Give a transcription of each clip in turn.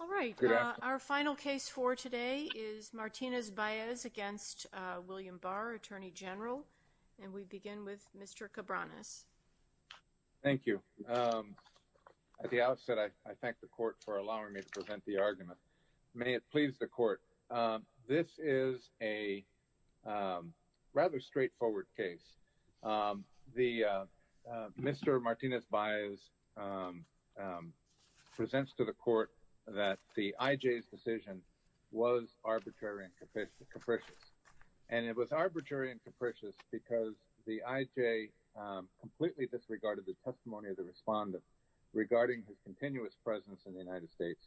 All right, our final case for today is Martinez-Baez against William Barr, Attorney General, and we begin with Mr. Cabranes. Thank you. At the outset, I thank the court for allowing me to present the argument. May it please the court, this is a rather straightforward case. Mr. Martinez-Baez presents to the court that the IJ's decision was arbitrary and capricious, and it was arbitrary and capricious because the IJ completely disregarded the testimony of the respondent regarding his continuous presence in the United States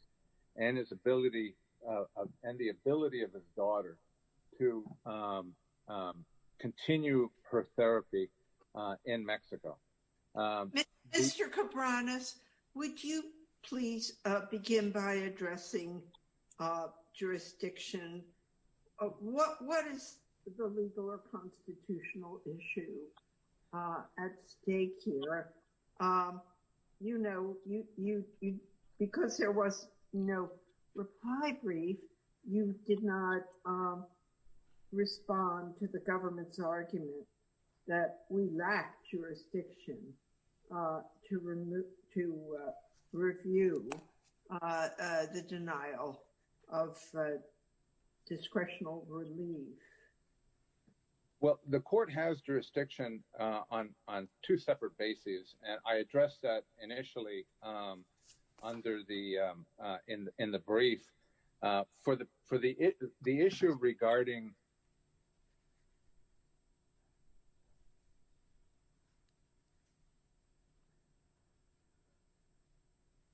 and his ability and the ability of his daughter to continue her therapy in Mexico. Mr. Cabranes, would you please begin by addressing jurisdiction? What is the legal or constitutional issue at stake here? You know, because there was no reply brief, you did not respond to the government's argument that we lacked jurisdiction to review the denial of discretional relief. Well, the court has jurisdiction on two separate bases, and I addressed that initially under the in the brief for the issue regarding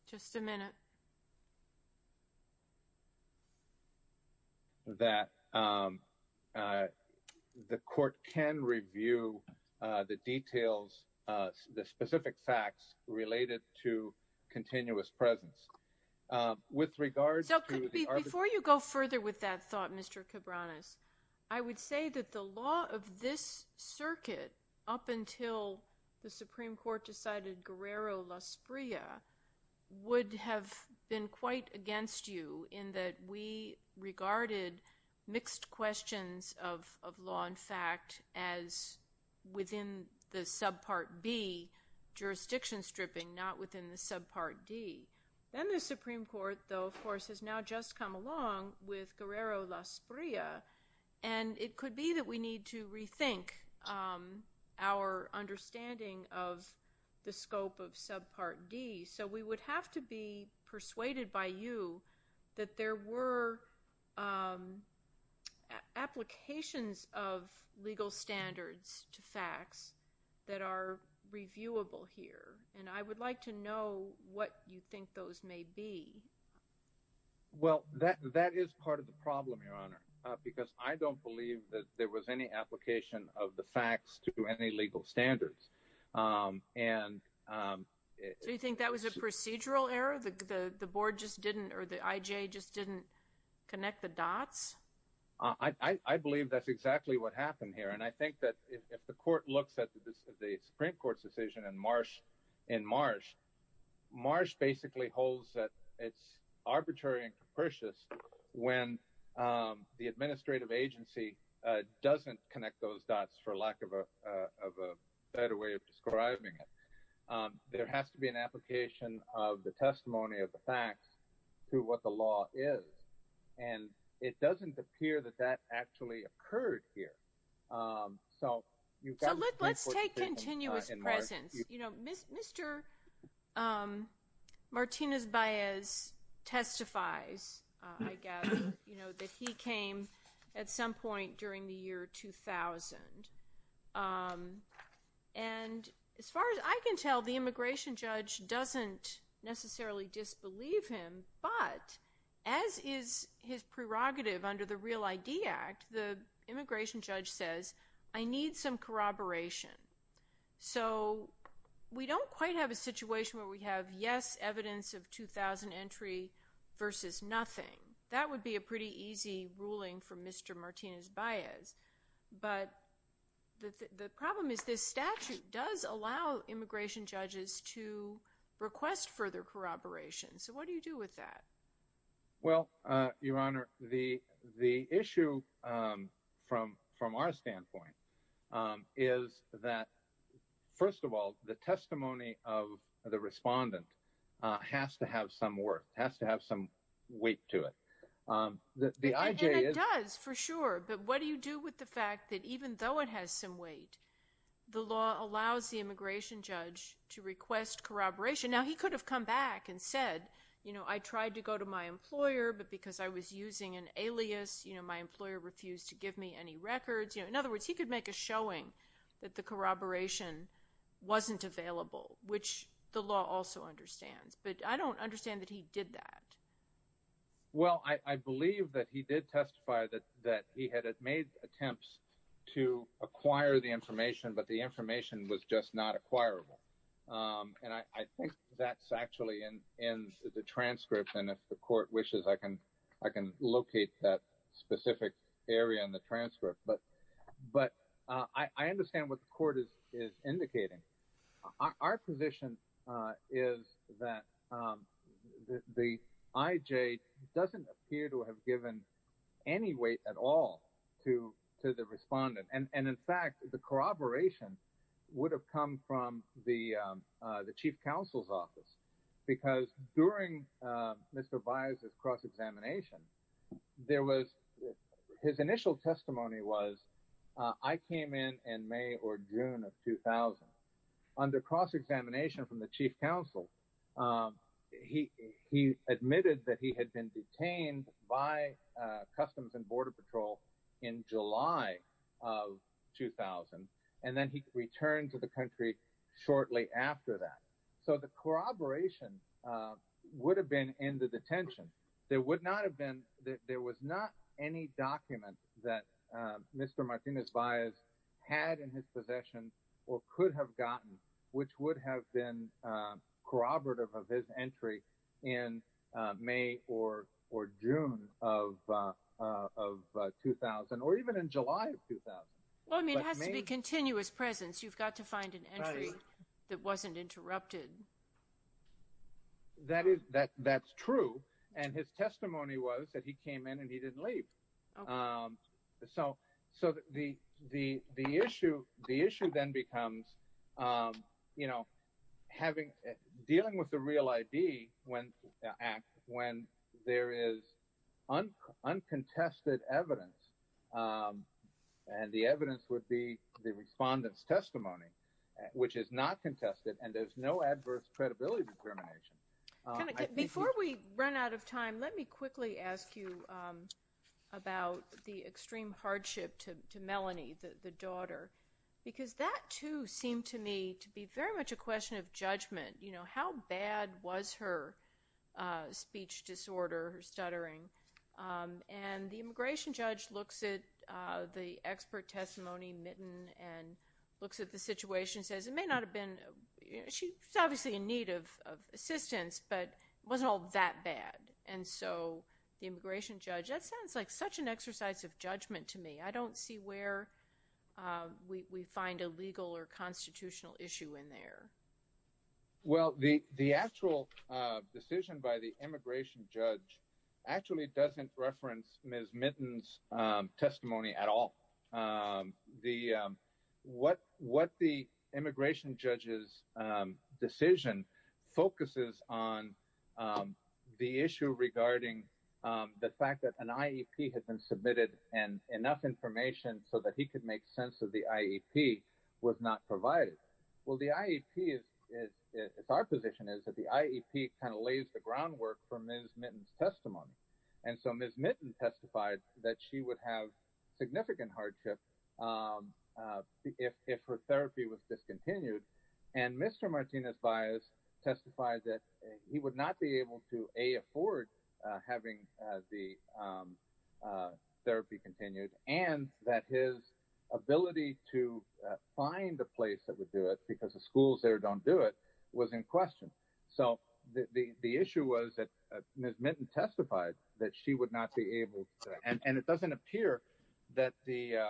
Just a minute. That the court can review the details, the specific facts related to continuous presence. With regards to the Before you go further with that thought, Mr. Cabranes, I would say that the quite against you in that we regarded mixed questions of law and fact as within the subpart B, jurisdiction stripping, not within the subpart D. Then the Supreme Court, though, of course, has now just come along with Guerrero-Lasprilla, and it could be that we need to rethink our understanding of the scope of subpart D. So we would have to be persuaded by you that there were applications of legal standards to facts that are reviewable here, and I would like to know what you think those may be. Well, that is part of the problem, Your Honor, because I don't believe that there was any application of the facts to any legal standards. So you think that was a procedural error? The board just didn't or the IJ just didn't connect the dots? I believe that's exactly what happened here, and I think that if the court looks at the Supreme Court's decision in Marsh, Marsh basically holds that it's arbitrary and for lack of a better way of describing it, there has to be an application of the testimony of the facts to what the law is, and it doesn't appear that that actually occurred here. So let's take continuous presence. You know, Mr. Martinez-Baez testifies, I gather, you know, that he came at some point during the year 2000, and as far as I can tell, the immigration judge doesn't necessarily disbelieve him, but as is his prerogative under the Real ID Act, the immigration judge says, I need some corroboration. So we don't quite have a situation where we have yes, evidence of 2000 entry versus nothing. That would be a pretty easy ruling for Mr. Martinez-Baez, but the problem is this statute does allow immigration judges to request further corroboration. So what do you do with that? Well, Your Honor, the issue from our standpoint is that, first of all, the testimony of the respondent has to have some worth, has to have some weight to it. The IJ is- And it does, for sure, but what do you do with the fact that even though it has some weight, the law allows the immigration judge to request corroboration? Now, he could have come back and said, you know, I tried to go to my employer, but because I was using an alias, you know, my employer refused to give me any records. You know, in other words, he could make a showing that the corroboration wasn't available, which the law also understands. But I don't understand that he did that. Well, I believe that he did testify that he had made attempts to acquire the information, but the information was just not acquirable. And I think that's actually in the transcript, and if the court wishes, I can locate that specific area in the transcript. But I understand what the court is indicating. Our position is that the IJ doesn't appear to have given any weight at all to the respondent. And in fact, the corroboration would have come from the chief counsel's office, because during Mr. Baez's cross-examination, there was, his initial testimony was, I came in in May or June of 2000. Under cross-examination from the chief counsel, he admitted that he had been detained by Customs and Border Patrol in July of 2000, and then he returned to the country shortly after that. So the corroboration would have been in the detention. There would not have been, there was not any document that Mr. Martinez-Baez had in his possession or could have gotten, which would have been corroborative of his entry in May or June of 2000, or even in July of 2000. Well, I mean, it has to be continuous presence. You've got to find an entry that wasn't interrupted. That is, that's true. And his testimony was that he came in and he didn't leave. So the issue then becomes, you know, having, dealing with the Real ID Act, when there is uncontested evidence, and the evidence would be the respondent's testimony, which is not contested, and there's no adverse credibility discrimination. Before we run out of time, let me quickly ask you about the extreme hardship to Melanie, the daughter, because that too seemed to me to be very much a question of judgment. You know, how bad was her speech disorder, her stuttering? And the immigration judge looks at the expert and says, it may not have been, she's obviously in need of assistance, but it wasn't all that bad. And so, the immigration judge, that sounds like such an exercise of judgment to me. I don't see where we find a legal or constitutional issue in there. Well, the actual decision by the immigration judge's decision focuses on the issue regarding the fact that an IEP had been submitted and enough information so that he could make sense of the IEP was not provided. Well, the IEP is, it's our position is that the IEP kind of lays the groundwork for Ms. Mitton's testimony. And so, Ms. Mitton testified that she would have significant hardship if her therapy was discontinued. And Mr. Martinez-Bias testified that he would not be able to, A, afford having the therapy continued, and that his ability to find a place that would do it because the schools there don't do it was in question. So, the issue was that Ms. Mitton testified that she would not be able to, and it doesn't appear that the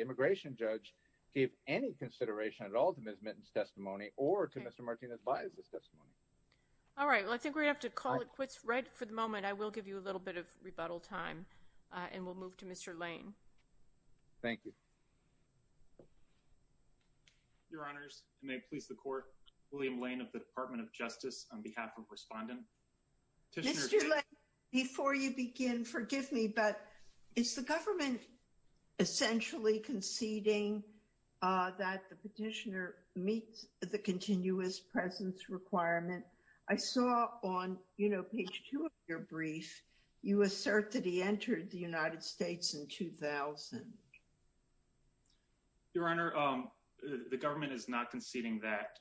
immigration judge gave any consideration at all to Ms. Mitton's testimony or to Mr. Martinez-Bias' testimony. All right. Well, I think we have to call it quits right for the moment. I will give you a little bit of rebuttal time, and we'll move to Mr. Lane. Thank you. Your Honors, and may it please the Court, William Lane of the Department of Justice, on behalf of Respondent. Mr. Lane, before you begin, forgive me, but is the government essentially conceding that the petitioner meets the continuous presence requirement? I saw on, you know, page two of your brief, you assert that he entered the United States in 2000. Your Honor, the government is not conceding that.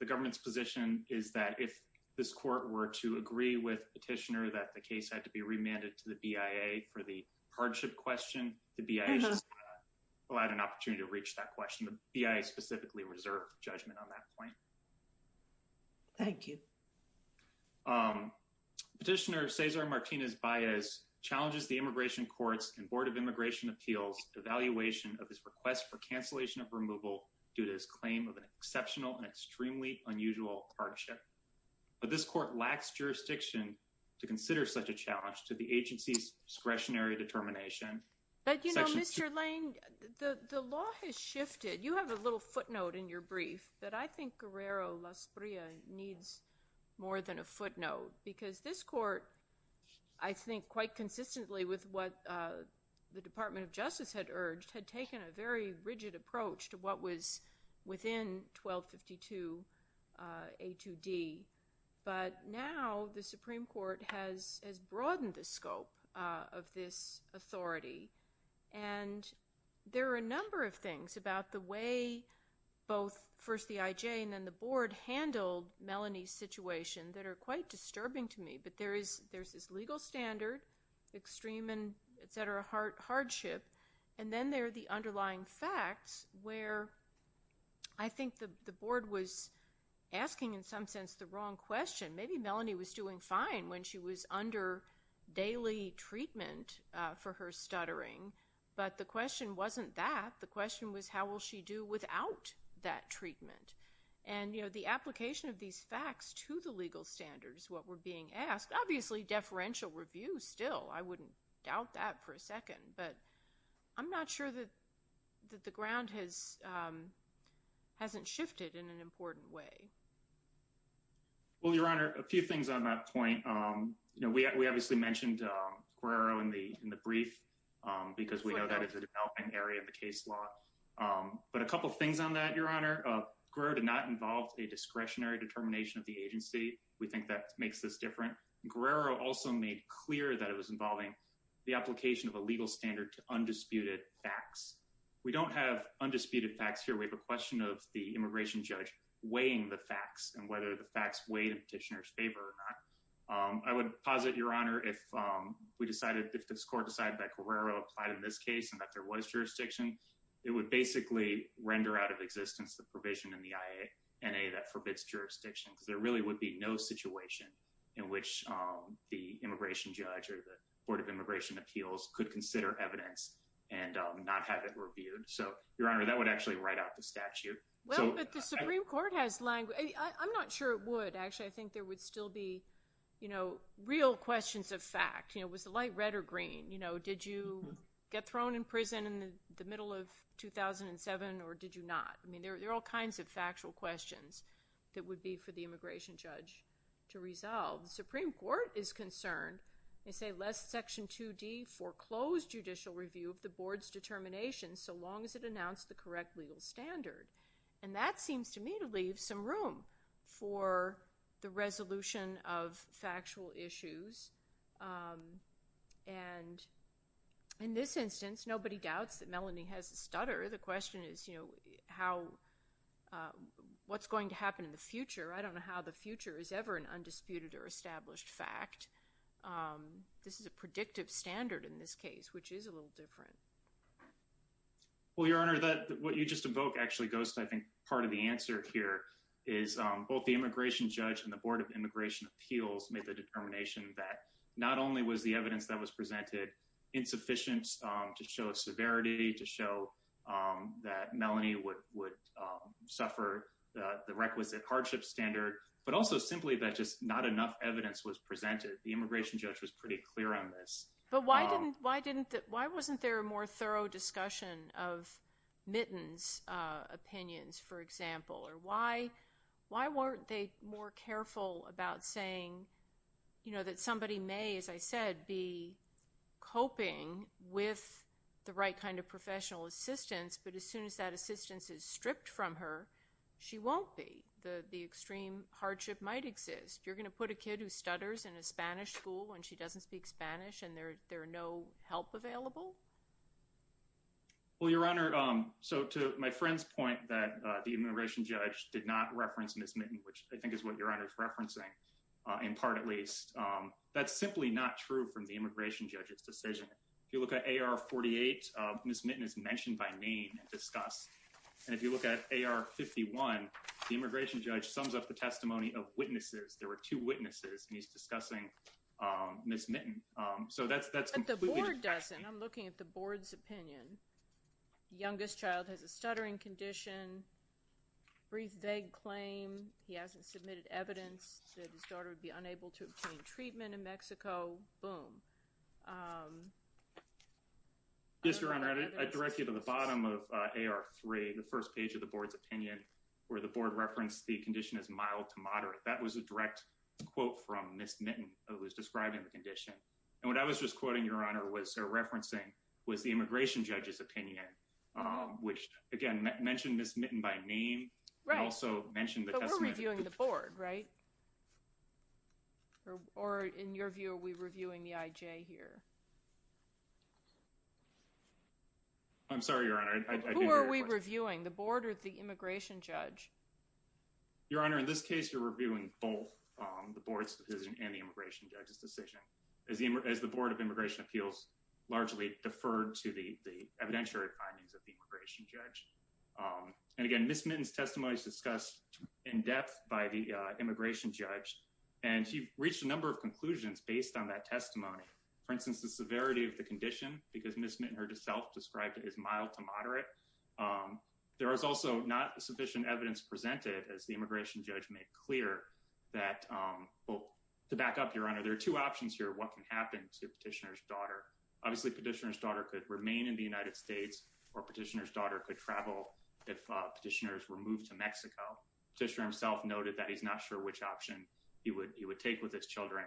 The government's position is that if this Court were to agree with petitioner that the case had to be remanded to the BIA for the hardship question, the BIA is allowed an opportunity to reach that question. The BIA specifically reserved judgment on that point. Thank you. Petitioner Cesar Martinez-Bias challenges the immigration courts and Board of Immigration Appeals' evaluation of his request for cancellation of removal due to his claim of an exceptional and extremely unusual hardship. But this Court lacks jurisdiction to consider such a challenge to the agency's discretionary determination. But, you know, Mr. Lane, the law has shifted. You have a little footnote in your brief that I think Guerrero-Lasprilla needs more than a footnote, because this Court, I think, quite consistently with what the Department of Justice had urged, had taken a very rigid approach to what was within 1252 A2D. But now the Supreme Court has broadened the scope of this authority. And there are a number of things about the way both first the IJ and then the Board handled Melanie's situation that are quite disturbing to me. There's this legal standard, extreme and etc. hardship, and then there are the underlying facts where I think the Board was asking, in some sense, the wrong question. Maybe Melanie was doing fine when she was under daily treatment for her stuttering, but the question wasn't that. The question was, how will she do without that treatment? And, you know, the application of these facts to the legal standards, what were being asked, obviously deferential review still, I wouldn't doubt that for a second. But I'm not sure that the ground has hasn't shifted in an important way. Well, Your Honor, a few things on that point. You know, we obviously mentioned Guerrero in the brief, because we know that it's a developing area of the case law. But a couple things on that, Your Honor. Guerrero did not involve a discretionary determination of the agency. We think that makes this different. Guerrero also made clear that it was involving the application of a legal standard to undisputed facts. We don't have undisputed facts here. We have a question of the immigration judge weighing the facts and whether the facts weighed in petitioner's favor or not. I would posit, Your Honor, if we decided, if this Court decided that Guerrero applied in this case and that there was jurisdiction, it would basically render out of existence the provision in the INA that forbids jurisdiction, because there really would be no situation in which the immigration judge or the Board of Immigration Appeals could consider evidence and not have it reviewed. So, Your Honor, that would actually write out the statute. Well, but the Supreme Court has language. I'm not sure it would. Actually, I think there did you get thrown in prison in the middle of 2007 or did you not? I mean, there are all kinds of factual questions that would be for the immigration judge to resolve. The Supreme Court is concerned, they say, lest Section 2D foreclose judicial review of the Board's determination so long as it announced the correct legal standard. And that seems to me to leave some room for the resolution of factual issues. And in this instance, nobody doubts that Melanie has a stutter. The question is, you know, how, what's going to happen in the future? I don't know how the future is ever an undisputed or established fact. This is a predictive standard in this case, which is a little different. Well, Your Honor, what you just invoked actually goes to, I think, the answer here is both the immigration judge and the Board of Immigration Appeals made the determination that not only was the evidence that was presented insufficient to show a severity, to show that Melanie would suffer the requisite hardship standard, but also simply that just not enough evidence was presented. The immigration judge was pretty clear on this. But why didn't, why didn't, why wasn't there a more thorough discussion of Mitten's opinions, for example? Or why, why weren't they more careful about saying, you know, that somebody may, as I said, be coping with the right kind of professional assistance, but as soon as that assistance is stripped from her, she won't be. The extreme hardship might exist. You're going to put a kid who stutters in a Spanish school and she doesn't speak Spanish and there are no help available? Well, Your Honor, so to my friend's point that the immigration judge did not reference Ms. Mitten, which I think is what Your Honor is referencing, in part at least, that's simply not true from the immigration judge's decision. If you look at AR-48, Ms. Mitten is mentioned by name and discussed. And if you look at AR-51, the immigration judge sums up the testimony of two witnesses and he's discussing Ms. Mitten. So that's completely different. But the board doesn't. I'm looking at the board's opinion. The youngest child has a stuttering condition, brief vague claim, he hasn't submitted evidence that his daughter would be unable to obtain treatment in Mexico, boom. Yes, Your Honor, I direct you to the bottom of AR-3, the first page of the board's opinion, where the board referenced the condition as mild to moderate. That was a direct quote from Ms. Mitten, who was describing the condition. And what I was just quoting, Your Honor, was referencing was the immigration judge's opinion, which again mentioned Ms. Mitten by name. Right. Also mentioned the testimony. But we're reviewing the board, right? Or in your view, are we reviewing the IJ here? I'm sorry, Your Honor. Who are we reviewing, the board or the immigration judge? Your Honor, in this case, you're reviewing both the board's decision and the immigration judge's decision. As the board of immigration appeals largely deferred to the evidentiary findings of the immigration judge. And again, Ms. Mitten's testimony is discussed in depth by the immigration judge. And she reached a number of conclusions based on that testimony. For instance, the severity of the condition, because Ms. Mitten herself described it as mild to moderate. There is also not sufficient evidence presented, as the immigration judge made clear. To back up, Your Honor, there are two options here. What can happen to petitioner's daughter? Obviously, petitioner's daughter could remain in the United States or petitioner's daughter could travel if petitioners were moved to Mexico. Petitioner himself noted that he's not sure which option he would take with his children.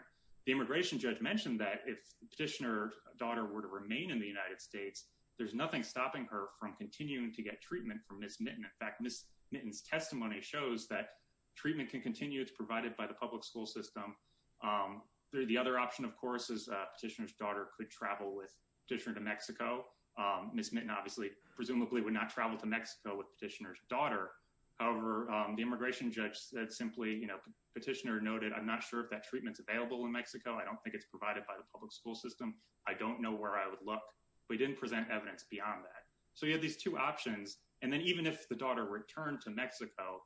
The immigration judge mentioned that if petitioner's daughter were to remain in the United States, there's nothing stopping her from continuing to get treatment for Ms. Mitten. Ms. Mitten's testimony shows that treatment can continue. It's provided by the public school system. The other option, of course, is petitioner's daughter could travel with petitioner to Mexico. Ms. Mitten, obviously, presumably, would not travel to Mexico with petitioner's daughter. However, the immigration judge said simply, you know, petitioner noted, I'm not sure if that treatment's available in Mexico. I don't think it's provided by the public school system. I don't know where I would look. But he didn't present evidence beyond that. So, you have these two options. And then even if the daughter returned to Mexico,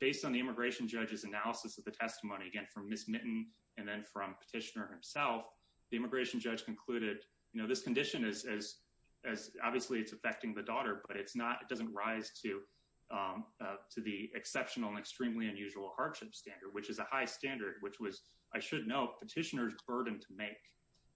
based on the immigration judge's analysis of the testimony, again, from Ms. Mitten and then from petitioner himself, the immigration judge concluded, you know, this condition is, obviously, it's affecting the daughter, but it's not, it doesn't rise to the exceptional and extremely unusual hardship standard, which is a high standard, which was, I should note, petitioner's burden to make.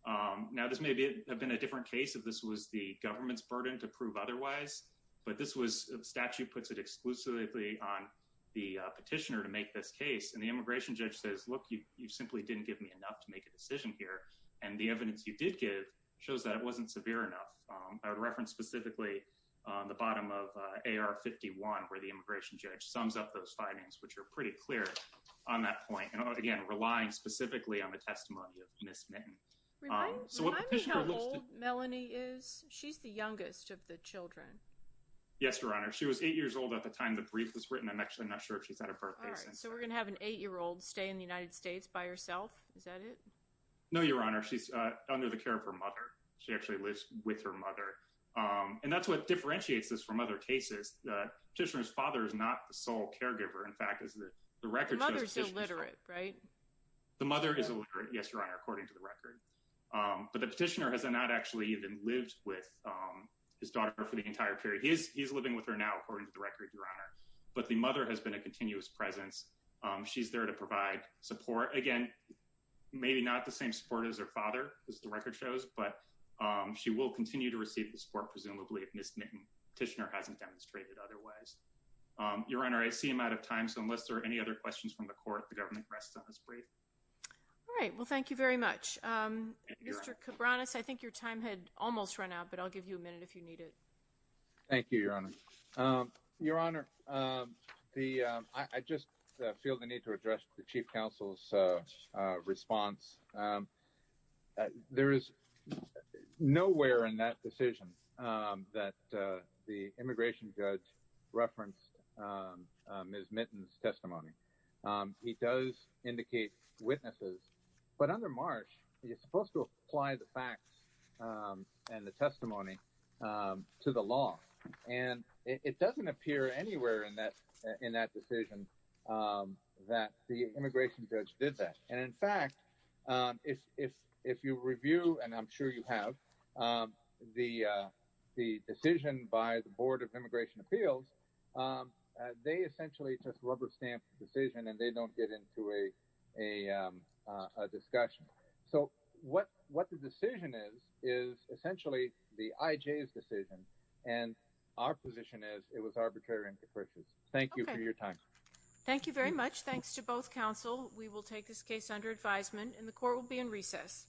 Now, this may have been a different case if this was the government's burden to prove otherwise. But this was statute puts it exclusively on the petitioner to make this case. And the immigration judge says, look, you simply didn't give me enough to make a decision here. And the evidence you did give shows that it wasn't severe enough. I would reference specifically on the bottom of AR 51, where the immigration judge sums up those findings, which are pretty clear on that point. And again, relying specifically on the testimony of Ms. Mitten. Remind me how old Melanie is? She's the youngest of the children. Yes, Your Honor. She was eight years old at the time the brief was written. I'm actually not sure if she's had a birthday since then. All right. So we're going to have an eight-year-old stay in the United States by herself? Is that it? No, Your Honor. She's under the care of her mother. She actually lives with her mother. And that's what differentiates this from other cases. The petitioner's father is not the sole caregiver, in fact, is the record shows petitioner's father. The mother's illiterate, right? The mother is illiterate, yes, Your Honor, according to the record. But the petitioner has not actually even lived with his daughter for the entire period. He's living with her now, according to the record, Your Honor. But the mother has been a continuous presence. She's there to provide support. Again, maybe not the same support as her father, as the record shows, but she will continue to receive the support, presumably, if Ms. Mitten petitioner hasn't demonstrated otherwise. Your Honor, I see I'm out of time. So unless there are any questions from the court, the government rests on this brief. All right. Well, thank you very much. Mr. Cabranes, I think your time had almost run out, but I'll give you a minute if you need it. Thank you, Your Honor. Your Honor, I just feel the need to address the Chief Counsel's response. There is nowhere in that decision that the immigration judge referenced Ms. Mitten's testimony. He does indicate witnesses, but under Marsh, you're supposed to apply the facts and the testimony to the law. And it doesn't appear anywhere in that decision that the immigration judge did that. And in fact, if you review, and I'm sure you have, the decision by the Board of Immigration Appeals, they essentially just rubber stamp the decision, and they don't get into a discussion. So what the decision is, is essentially the IJ's decision, and our position is it was arbitrary and capricious. Thank you for your time. Thank you very much. Thanks to both counsel. We will take this case under advisement, and the court will be in recess.